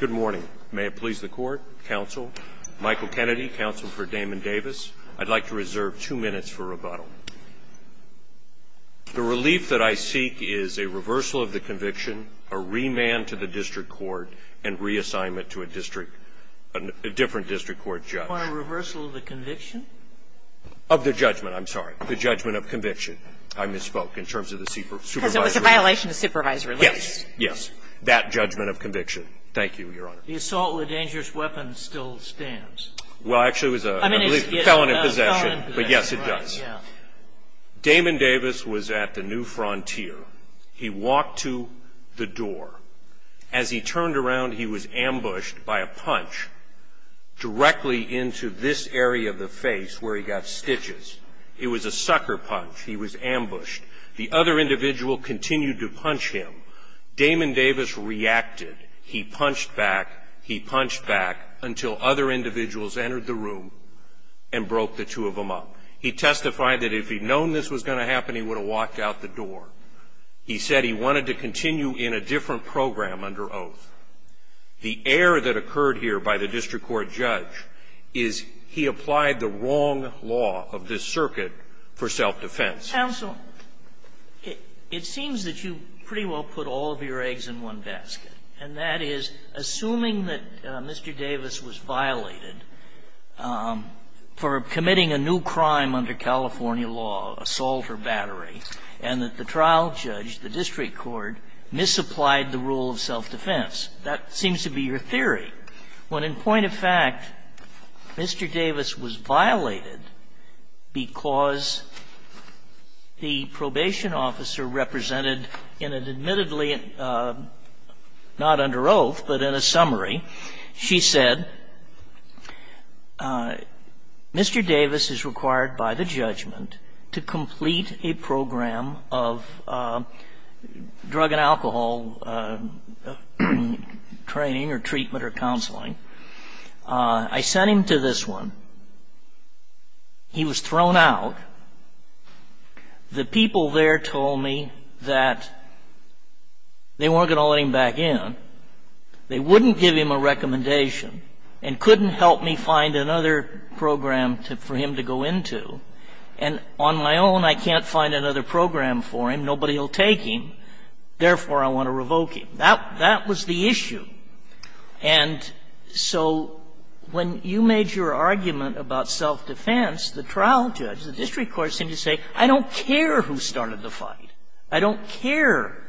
Good morning. May it please the Court, Counsel, Michael Kennedy, Counsel for Damon Davis, I'd like to reserve two minutes for rebuttal. The relief that I seek is a reversal of the conviction, a remand to the district court, and reassignment to a district – a different district court judge. You want a reversal of the conviction? Of the judgment, I'm sorry. The judgment of conviction. I misspoke in terms of the supervisor relief. Because it was a violation of supervisor relief. Yes, yes. That judgment of conviction. Thank you, Your Honor. The assault with a dangerous weapon still stands. Well, actually, it was a felon in possession, but yes, it does. Damon Davis was at the New Frontier. He walked to the door. As he turned around, he was ambushed by a punch directly into this area of the face where he got stitches. It was a sucker punch. He was ambushed. The other individual continued to punch him. Damon Davis reacted. He punched back. He punched back until other individuals entered the room and broke the two of them up. He testified that if he'd known this was going to happen, he would have walked out the door. He said he wanted to continue in a different program under oath. The error that occurred here by the district court judge is he applied the wrong law of this circuit for self-defense. Counsel, it seems that you pretty well put all of your eggs in one basket, and that is, assuming that Mr. Davis was violated for committing a new crime under California law, assault or battery, and that the trial judge, the district court, misapplied the rule of self-defense. That seems to be your theory. When, in point of fact, Mr. Davis was violated because the probation officer represented in an admittedly not under oath, but in a summary, she said, Mr. Davis is required by the judgment to complete a program of drug and alcohol training or treatment or counseling. I sent him to this one. He was thrown out. The people there told me that they weren't going to let him back in. They wouldn't give him a recommendation and couldn't help me find another program for him to go into, and on my own, I can't find another program for him. Nobody will take him. Therefore, I want to revoke him. That was the issue. And so when you made your argument about self-defense, the trial judge, the district court, seemed to say, I don't care who started the fight. I don't care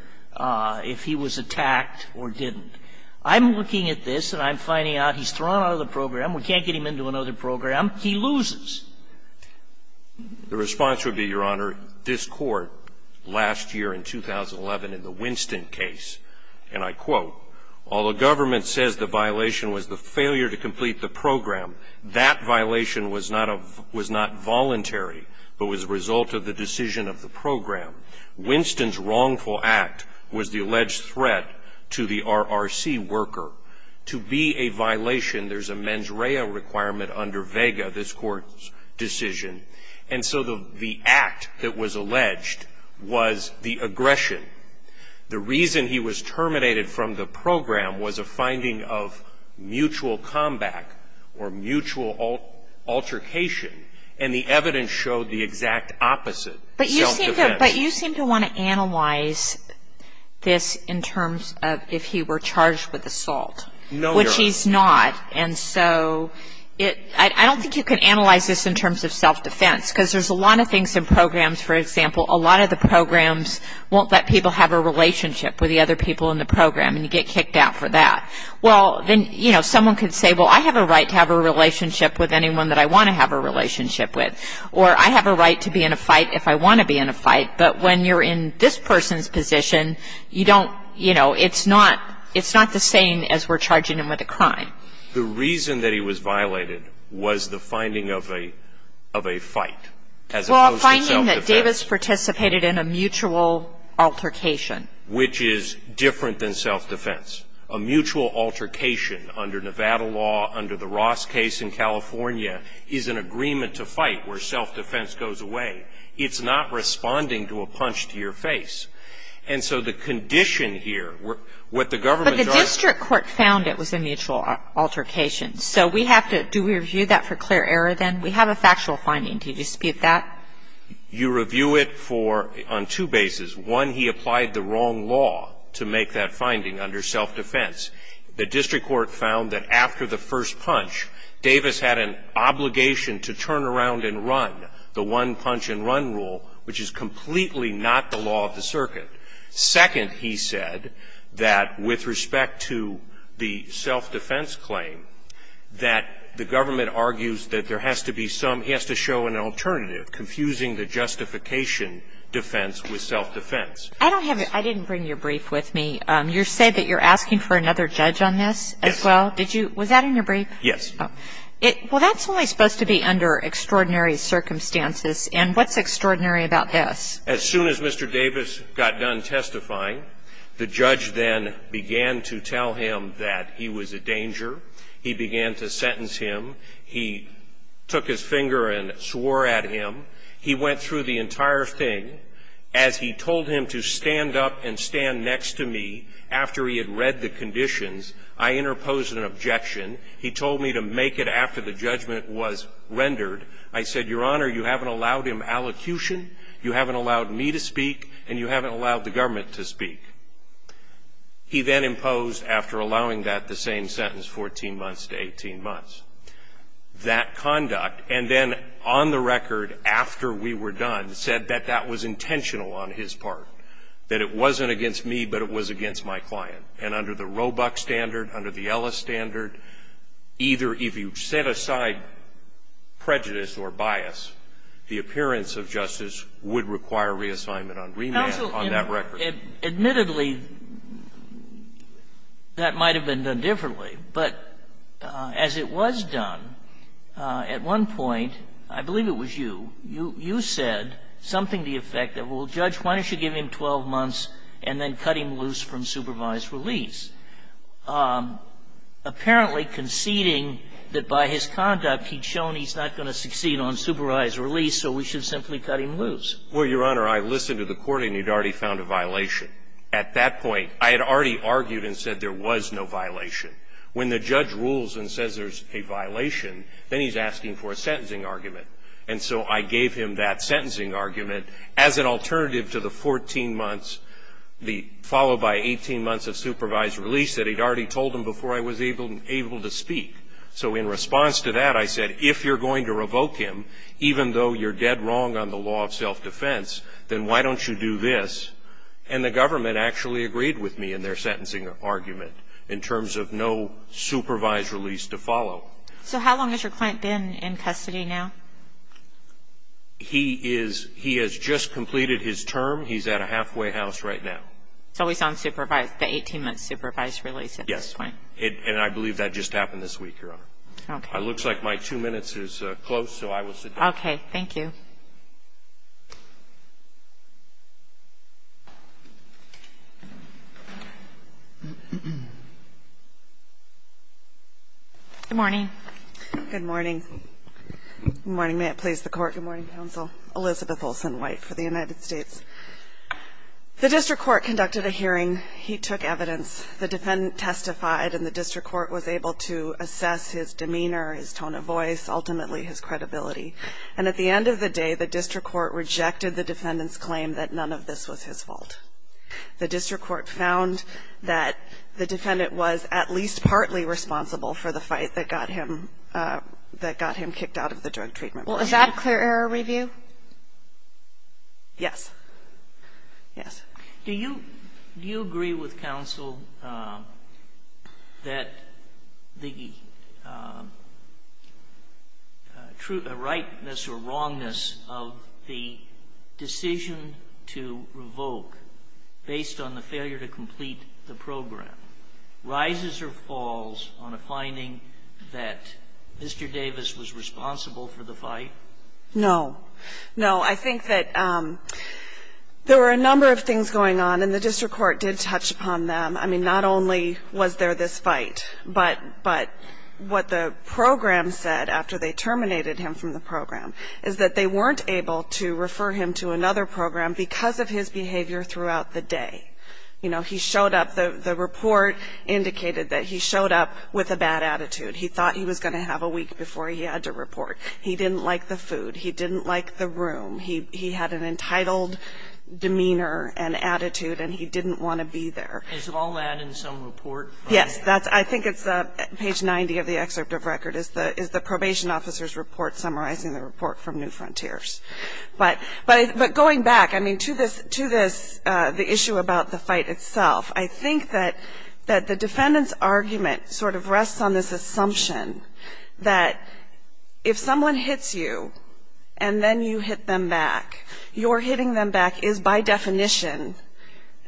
if he was attacked or didn't. I'm looking at this and I'm finding out he's thrown out of the program. We can't get him into another program. He loses. The response would be, Your Honor, this Court, last year in 2011 in the Winston case, and I quote, while the government says the violation was the failure to complete the program, that violation was not voluntary, but was a result of the decision of the program. Winston's wrongful act was the alleged threat to the RRC worker. To be a violation, there's a mens rea requirement under vega. This Court's decision. And so the act that was alleged was the aggression. The reason he was terminated from the program was a finding of mutual combat or mutual altercation. And the evidence showed the exact opposite, self-defense. But you seem to want to analyze this in terms of if he were charged with assault. No, Your Honor. He's not. And so I don't think you can analyze this in terms of self-defense. Because there's a lot of things in programs, for example, a lot of the programs won't let people have a relationship with the other people in the program. And you get kicked out for that. Well, then, you know, someone could say, Well, I have a right to have a relationship with anyone that I want to have a relationship with. Or I have a right to be in a fight if I want to be in a fight. But when you're in this person's position, you don't, you know, it's not the same as we're charging him with a crime. The reason that he was violated was the finding of a fight as opposed to self-defense. Well, a finding that Davis participated in a mutual altercation. Which is different than self-defense. A mutual altercation under Nevada law, under the Ross case in California, is an agreement to fight where self-defense goes away. It's not responding to a punch to your face. And so the condition here, what the government... But the district court found it was a mutual altercation. So we have to, do we review that for clear error then? We have a factual finding. Do you dispute that? You review it for, on two bases. One, he applied the wrong law to make that finding under self-defense. The district court found that after the first punch, Davis had an obligation to turn around and run. The one punch and run rule, which is completely not the law of the circuit. Second, he said that with respect to the self-defense claim, that the government argues that there has to be some, he has to show an alternative, confusing the justification defense with self-defense. I don't have it. I didn't bring your brief with me. You said that you're asking for another judge on this as well? Yes. Did you? Was that in your brief? Yes. Well, that's only supposed to be under extraordinary circumstances. And what's extraordinary about this? As soon as Mr. Davis got done testifying, the judge then began to tell him that he was a danger. He began to sentence him. He took his finger and swore at him. He went through the entire thing. As he told him to stand up and stand next to me, after he had read the conditions, I interposed an objection. He told me to make it after the judgment was rendered. I said, Your Honor, you haven't allowed him allocution. You haven't allowed me to speak. And you haven't allowed the government to speak. He then imposed, after allowing that, the same sentence, 14 months to 18 months. That conduct, and then on the record after we were done, said that that was intentional on his part. That it wasn't against me, but it was against my client. And under the Roebuck standard, under the Ellis standard, either if you set aside prejudice or bias, the appearance of justice would require reassignment on remand on that record. Admittedly, that might have been done differently. But as it was done, at one point, I believe it was you, you said something to the effect of, well, Judge, why don't you give him 12 months and then cut him loose from supervised release, apparently conceding that by his conduct he'd shown he's not going to succeed on supervised release, so we should simply cut him loose. Well, Your Honor, I listened to the court and he'd already found a violation. At that point, I had already argued and said there was no violation. When the judge rules and says there's a violation, then he's asking for a sentencing argument. And so I gave him that sentencing argument as an alternative to the 14 months, followed by 18 months of supervised release that he'd already told him before I was able to speak. So in response to that, I said, if you're going to revoke him, even though you're dead wrong on the law of self-defense, then why don't you do this? And the government actually agreed with me in their sentencing argument, in terms of no supervised release to follow. So how long has your client been in custody now? He has just completed his term. He's at a halfway house right now. So he's on supervised, the 18-month supervised release at this point? Yes. And I believe that just happened this week, Your Honor. Okay. It looks like my two minutes is close, so I will sit down. Okay. Thank you. Good morning. Good morning. Good morning. May it please the Court. Good morning, Counsel. Elizabeth Olsen-White for the United States. The district court conducted a hearing. He took evidence. The defendant testified, and the district court was able to assess his demeanor, his tone of voice, ultimately his credibility. And at the end of the day, the district court rejected the defendant's The district court found that the defendant's claim that none of this was true, and it was at least partly responsible for the fight that got him kicked out of the drug treatment program. Well, is that a clear error review? Yes. Yes. Do you agree with counsel that the rightness or wrongness of the decision to revoke based on the failure to complete the program rises or falls on a finding that Mr. Davis was responsible for the fight? No. No. I think that there were a number of things going on, and the district court did touch upon them. I mean, not only was there this fight, but what the program said after they terminated him from the program is that they weren't able to refer him to another program because of his behavior throughout the day. You know, he showed up. The report indicated that he showed up with a bad attitude. He thought he was going to have a week before he had to report. He didn't like the food. He didn't like the room. He had an entitled demeanor and attitude, and he didn't want to be there. Is all that in some report? Yes. I think it's page 90 of the excerpt of record is the probation officer's report summarizing the report from New Frontiers. But going back, I mean, to the issue about the fight itself, I think that the defendant's argument sort of rests on this assumption that if someone hits you and then you hit them back, your hitting them back is by definition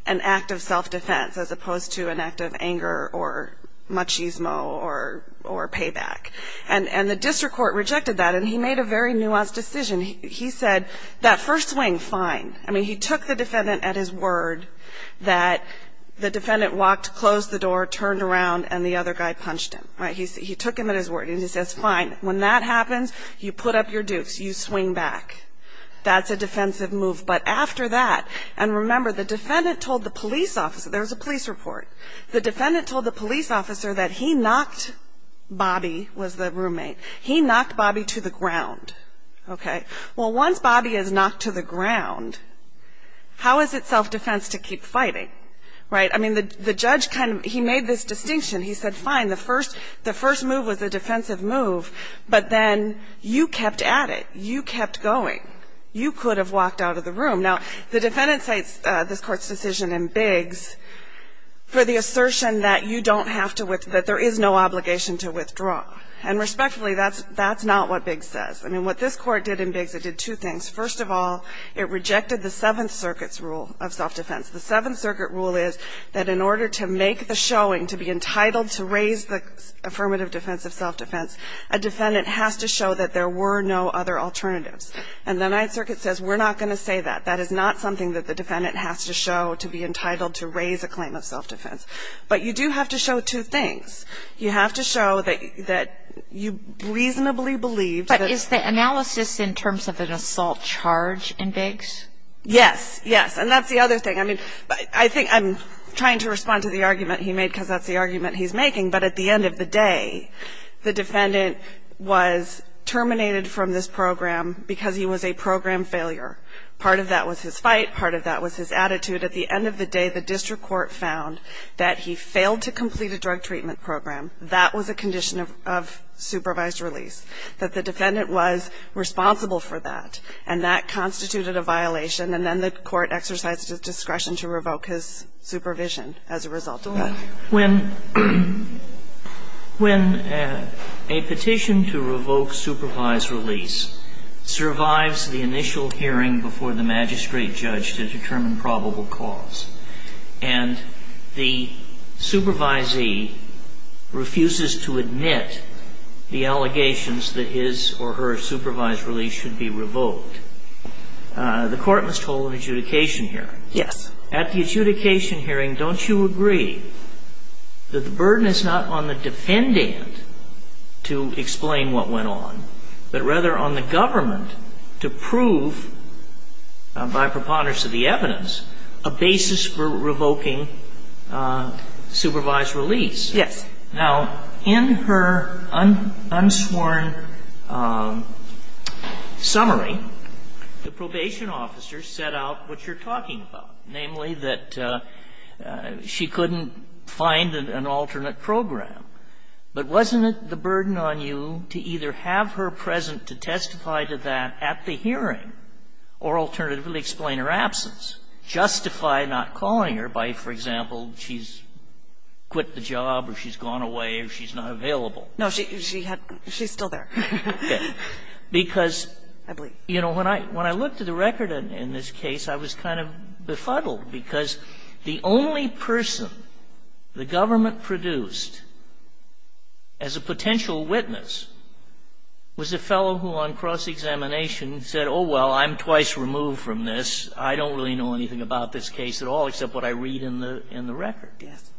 an act of self-defense as opposed to an act of anger or machismo or payback. And the district court rejected that, and he made a very nuanced decision. He said, that first swing, fine. I mean, he took the defendant at his word that the defendant walked, closed the door, turned around, and the other guy punched him. Right? He took him at his word. And he says, fine. When that happens, you put up your dukes. You swing back. That's a defensive move. But after that, and remember, the defendant told the police officer there was a police report. The defendant told the police officer that he knocked Bobby, was the roommate, he knocked Bobby to the ground. Okay? Well, once Bobby is knocked to the ground, how is it self-defense to keep fighting? Right? I mean, the judge kind of, he made this distinction. He said, fine, the first move was a defensive move, but then you kept at it. You kept going. You could have walked out of the room. Now, the defendant cites this court's decision in Biggs for the assertion that you don't have to, that there is no obligation to withdraw. And respectfully, that's not what Biggs says. I mean, what this court did in Biggs, it did two things. First of all, it rejected the Seventh Circuit's rule of self-defense. The Seventh Circuit rule is that in order to make the showing to be entitled to raise the affirmative defense of self-defense, a defendant has to show that there were no other alternatives. And the Ninth Circuit says, we're not going to say that. That is not something that the defendant has to show to be entitled to raise a claim of self-defense. But you do have to show two things. You have to show that you reasonably believed that. But is the analysis in terms of an assault charge in Biggs? Yes. Yes. And that's the other thing. I mean, I think I'm trying to respond to the argument he made because that's the argument he's making. But at the end of the day, the defendant was terminated from this program because he was a program failure. Part of that was his fight. Part of that was his attitude. At the end of the day, the district court found that he failed to That was a condition of supervised release. That the defendant was responsible for that. And that constituted a violation. And then the court exercised his discretion to revoke his supervision as a result of that. When a petition to revoke supervised release survives the initial hearing before the magistrate judge to determine probable cause, and the supervisee refuses to admit the allegations that his or her supervised release should be revoked, the court must hold an adjudication hearing. Yes. At the adjudication hearing, don't you agree that the burden is not on the defendant to explain what went on, but rather on the government to prove, by preponderance of the evidence, a basis for revoking supervised release? Yes. Now, in her unsworn summary, the probation officer set out what you're talking about, namely that she couldn't find an alternate program. But wasn't it the burden on you to either have her present to testify to that at the hearing or alternatively explain her absence, justify not calling her by, for example, she's quit the job or she's gone away or she's not available? No, she's still there. Okay. Because, you know, when I looked at the record in this case, I was kind of befuddled because the only person the government produced as a potential witness was a fellow who on cross-examination said, oh, well, I'm twice removed from this. I don't really know anything about this case at all except what I read in the record. Yes.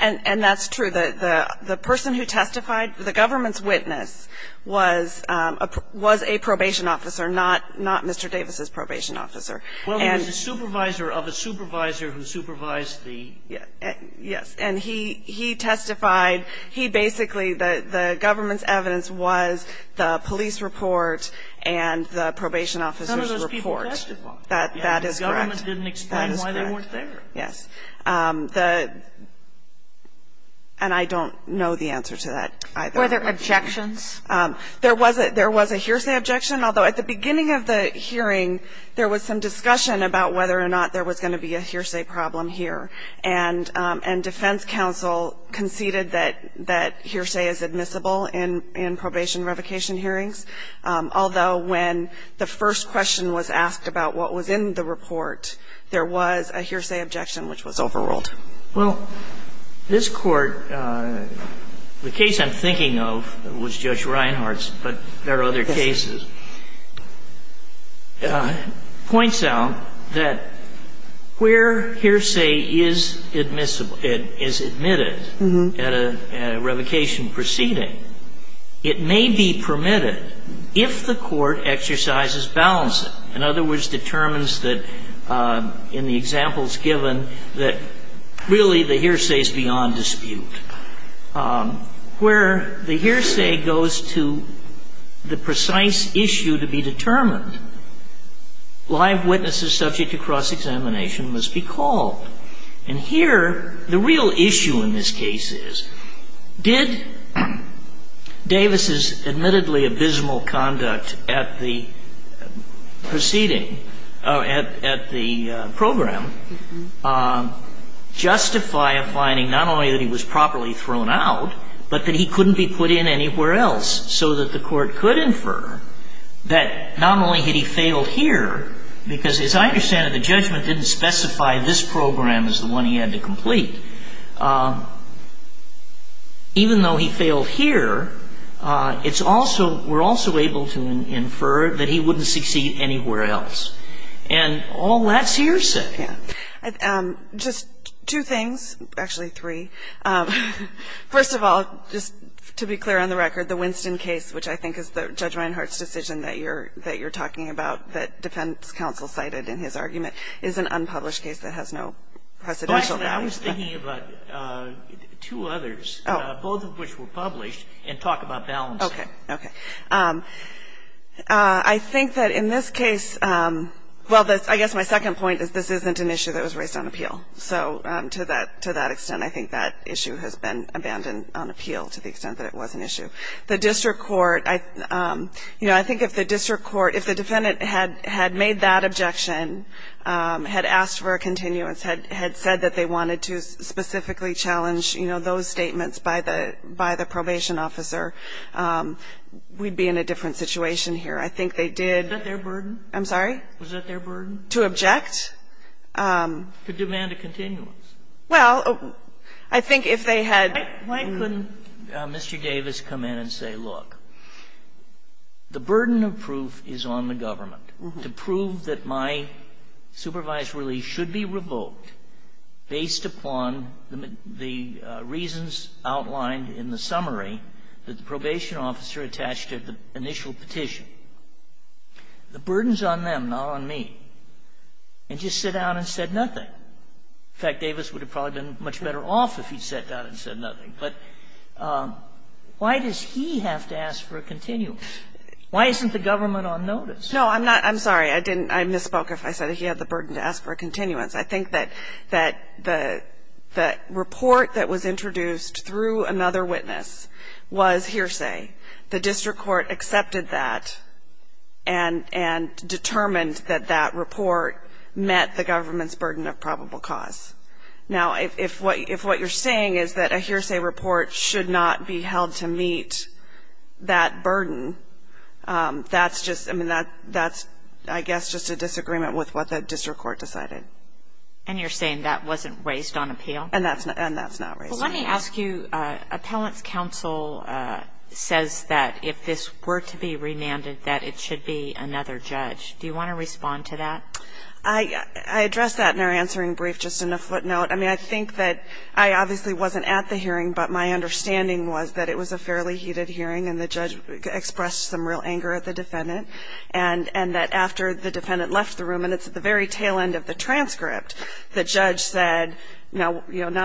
And that's true. The person who testified, the government's witness, was a probation officer, not Mr. Davis's probation officer. Well, he was a supervisor of a supervisor who supervised the ---- Yes. And he testified, he basically, the government's evidence was the police report and the probation officer's report. He testified. That is correct. The government didn't explain why they weren't there. Yes. And I don't know the answer to that either. Were there objections? There was a hearsay objection, although at the beginning of the hearing, there was some discussion about whether or not there was going to be a hearsay problem here. And defense counsel conceded that hearsay is admissible in probation revocation hearings, although when the first question was asked about what was in the report, there was a hearsay objection which was overruled. Well, this Court, the case I'm thinking of was Judge Reinhardt's, but there are other cases, points out that where hearsay is admissible, is admitted at a revocation proceeding, it may be permitted if the court exercises balancing. In other words, determines that, in the examples given, that really the hearsay is beyond dispute. Where the hearsay goes to the precise issue to be determined, live witnesses subject to cross-examination must be called. And here, the real issue in this case is, did Davis's admittedly abysmal conduct at the proceeding, at the program, justify a finding not only that he was properly thrown out, but that he couldn't be put in anywhere else so that the court could infer that not only had he failed here, because as I understand it, the judgment didn't specify this program as the one he had to complete, even though he failed here, it's also, we're also able to infer that he wouldn't succeed anywhere else. And all that's hearsay. Yeah. Just two things, actually three. First of all, just to be clear on the record, the Winston case, which I think is the Judge Reinhardt's decision that you're talking about, that defense counsel cited in his argument, is an unpublished case that has no precedential evidence. But actually, I was thinking about two others, both of which were published, and talk about balancing. Okay. I think that in this case, well, I guess my second point is this isn't an issue that was raised on appeal. So to that extent, I think that issue has been abandoned on appeal to the extent that it was an issue. If the defendant had made that objection, had asked for a continuance, had said that they wanted to specifically challenge, you know, those statements by the probation officer, we'd be in a different situation here. I think they did. Was that their burden? I'm sorry? Was that their burden? To object? To demand a continuance. Well, I think if they had. Why couldn't Mr. Davis come in and say, look, the burden of proof is on the government. To prove that my supervised release should be revoked based upon the reasons outlined in the summary that the probation officer attached to the initial petition. The burden's on them, not on me. And just sit down and said nothing. In fact, Davis would have probably been much better off if he'd sat down and said nothing. But why does he have to ask for a continuance? Why isn't the government on notice? No, I'm not. I'm sorry. I didn't. I misspoke if I said he had the burden to ask for a continuance. I think that the report that was introduced through another witness was hearsay. The district court accepted that and determined that that report met the government's probable cause. Now, if what you're saying is that a hearsay report should not be held to meet that burden, that's just, I mean, that's, I guess, just a disagreement with what the district court decided. And you're saying that wasn't raised on appeal? And that's not raised on appeal. Well, let me ask you. Appellant's counsel says that if this were to be remanded, that it should be another judge. Do you want to respond to that? I addressed that in our answering brief just in a footnote. I mean, I think that I obviously wasn't at the hearing, but my understanding was that it was a fairly heated hearing and the judge expressed some real anger at the defendant and that after the defendant left the room, and it's at the very tail end of the transcript, the judge said, now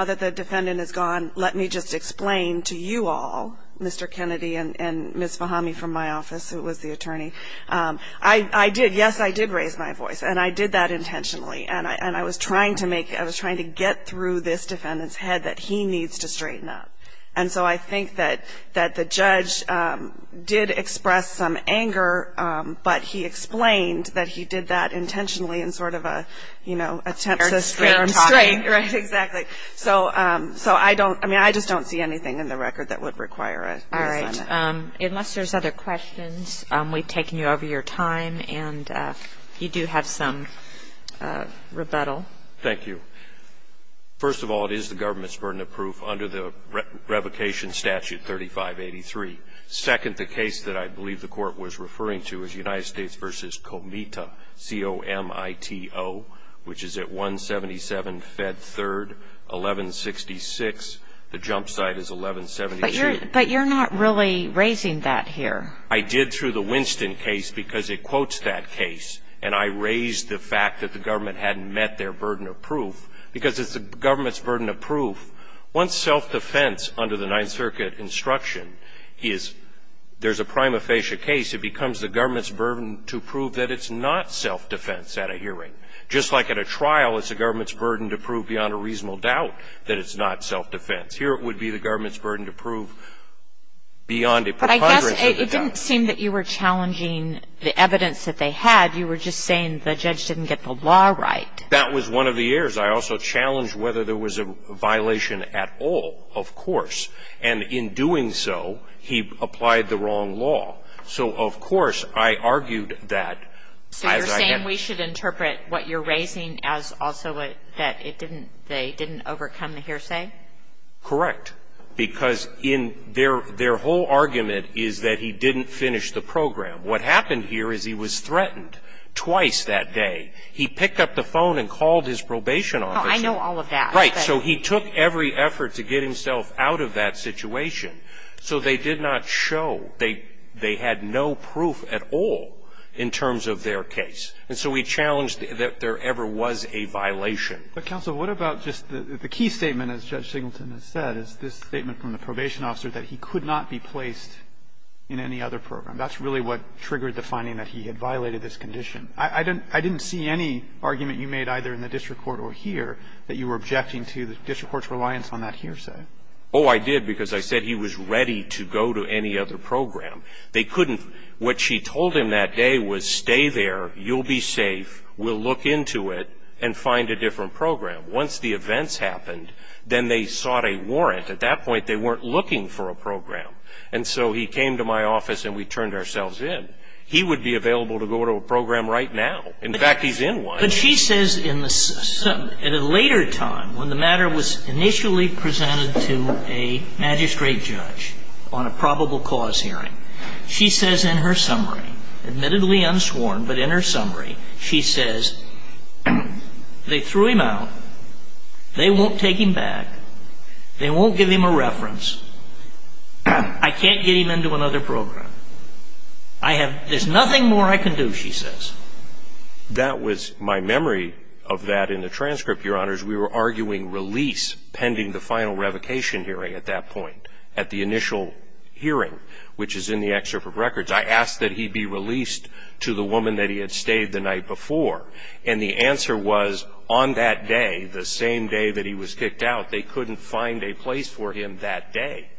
that the defendant is gone, let me just explain to you all, Mr. Kennedy and Ms. Vahami from my office, who was the attorney. I did. Yes, I did raise my voice. And I did that intentionally. And I was trying to make, I was trying to get through this defendant's head that he needs to straighten up. And so I think that the judge did express some anger, but he explained that he did that intentionally in sort of a, you know, attempts at straight talking. Exactly. So I don't, I mean, I just don't see anything in the record that would require it. All right. Unless there's other questions, we've taken you over your time. And you do have some rebuttal. Thank you. First of all, it is the government's burden of proof under the revocation statute 3583. Second, the case that I believe the court was referring to is United States v. Comita, C-O-M-I-T-O, which is at 177 Fed 3rd, 1166. The jump site is 1172. But you're not really raising that here. I did through the Winston case because it quotes that case. And I raised the fact that the government hadn't met their burden of proof because it's the government's burden of proof. Once self-defense under the Ninth Circuit instruction is, there's a prima facie case, it becomes the government's burden to prove that it's not self-defense at a hearing. Just like at a trial, it's the government's burden to prove beyond a reasonable doubt that it's not self-defense. Here it would be the government's burden to prove beyond a preponderance of the doubt. But I guess it didn't seem that you were challenging the evidence that they had. You were just saying the judge didn't get the law right. That was one of the errors. I also challenged whether there was a violation at all. Of course. And in doing so, he applied the wrong law. So, of course, I argued that as I had. So you're saying we should interpret what you're raising as also that it didn't they didn't overcome the hearsay? Correct. Because in their whole argument is that he didn't finish the program. What happened here is he was threatened twice that day. He picked up the phone and called his probation officer. Oh, I know all of that. Right. So he took every effort to get himself out of that situation. So they did not show. They had no proof at all in terms of their case. And so we challenged that there ever was a violation. But, counsel, what about just the key statement, as Judge Singleton has said, is this statement from the probation officer that he could not be placed in any other program. That's really what triggered the finding that he had violated this condition. I didn't see any argument you made either in the district court or here that you were objecting to the district court's reliance on that hearsay. Oh, I did, because I said he was ready to go to any other program. They couldn't. What she told him that day was stay there, you'll be safe, we'll look into it, and we'll find a different program. Once the events happened, then they sought a warrant. At that point, they weren't looking for a program. And so he came to my office and we turned ourselves in. He would be available to go to a program right now. In fact, he's in one. But she says in a later time, when the matter was initially presented to a magistrate judge on a probable cause hearing, she says in her summary, admittedly unsworn, but in her summary, she says they threw him out. They won't take him back. They won't give him a reference. I can't get him into another program. There's nothing more I can do, she says. That was my memory of that in the transcript, Your Honors. We were arguing release pending the final revocation hearing at that point, at the initial hearing, which is in the excerpt of records. I asked that he be released to the woman that he had stayed the night before. And the answer was, on that day, the same day that he was kicked out, they couldn't find a place for him that day.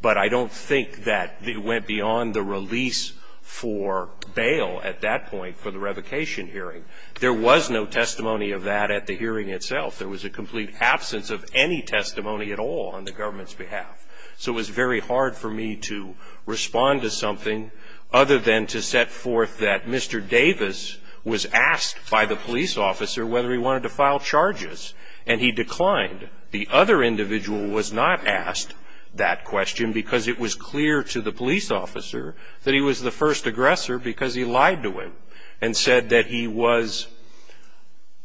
But I don't think that it went beyond the release for bail at that point for the revocation hearing. There was no testimony of that at the hearing itself. There was a complete absence of any testimony at all on the government's behalf. So it was very hard for me to respond to something other than to set forth that Mr. Davis was asked by the police officer whether he wanted to file charges. And he declined. The other individual was not asked that question because it was clear to the police officer that he was the first aggressor because he lied to him and said that he was,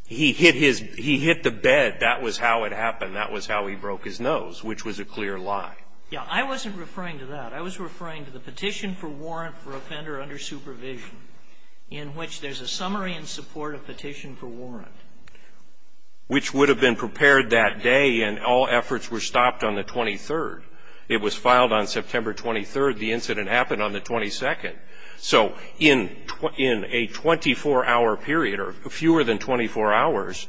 he hit the bed, that was how it happened, that was how he broke his lie. Yeah, I wasn't referring to that. I was referring to the Petition for Warrant for Offender Under Supervision in which there's a summary in support of Petition for Warrant. Which would have been prepared that day and all efforts were stopped on the 23rd. It was filed on September 23rd. The incident happened on the 22nd. So in a 24-hour period or fewer than 24 hours,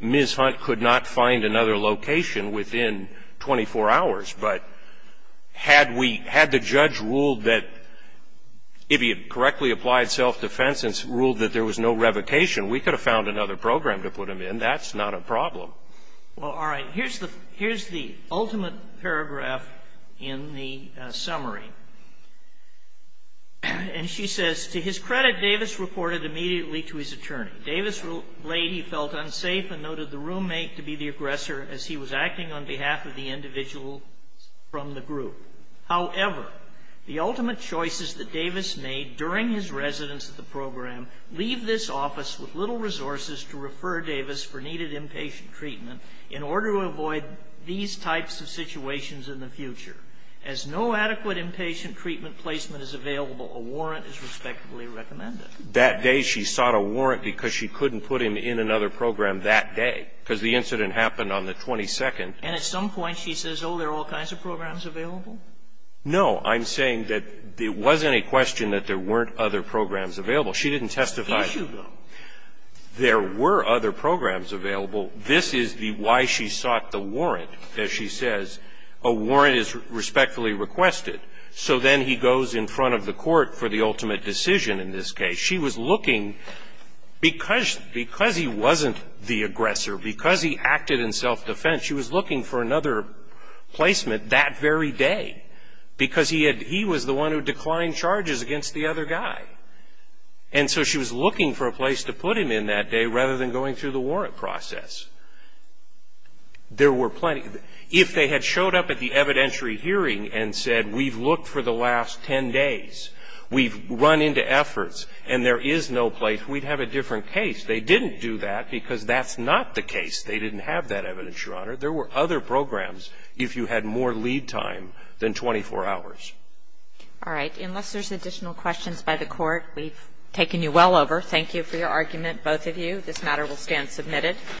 Ms. Hunt could not find another location within 24 hours. But had we, had the judge ruled that if he had correctly applied self-defense and ruled that there was no revocation, we could have found another program to put him in. That's not a problem. Well, all right. Here's the ultimate paragraph in the summary. And she says, To his credit, Davis reported immediately to his attorney. Davis later felt unsafe and noted the roommate to be the aggressor as he was acting on behalf of the individual from the group. However, the ultimate choices that Davis made during his residence at the program leave this office with little resources to refer Davis for needed inpatient treatment in order to avoid these types of situations in the future. As no adequate inpatient treatment placement is available, a warrant is respectively recommended. That day she sought a warrant because she couldn't put him in another program that day, because the incident happened on the 22nd. And at some point she says, oh, there are all kinds of programs available? No. I'm saying that it wasn't a question that there weren't other programs available. She didn't testify. The issue, though. There were other programs available. This is the why she sought the warrant, as she says. A warrant is respectfully requested. So then he goes in front of the court for the ultimate decision in this case. She was looking, because he wasn't the aggressor, because he acted in self-defense, she was looking for another placement that very day. Because he was the one who declined charges against the other guy. And so she was looking for a place to put him in that day rather than going through the warrant process. There were plenty. If they had showed up at the evidentiary hearing and said we've looked for the last ten days, we've run into efforts, and there is no place, we'd have a different case. They didn't do that because that's not the case. They didn't have that evidence, Your Honor. There were other programs if you had more lead time than 24 hours. All right. Unless there's additional questions by the Court, we've taken you well over. Thank you for your argument, both of you. This matter will stand submitted.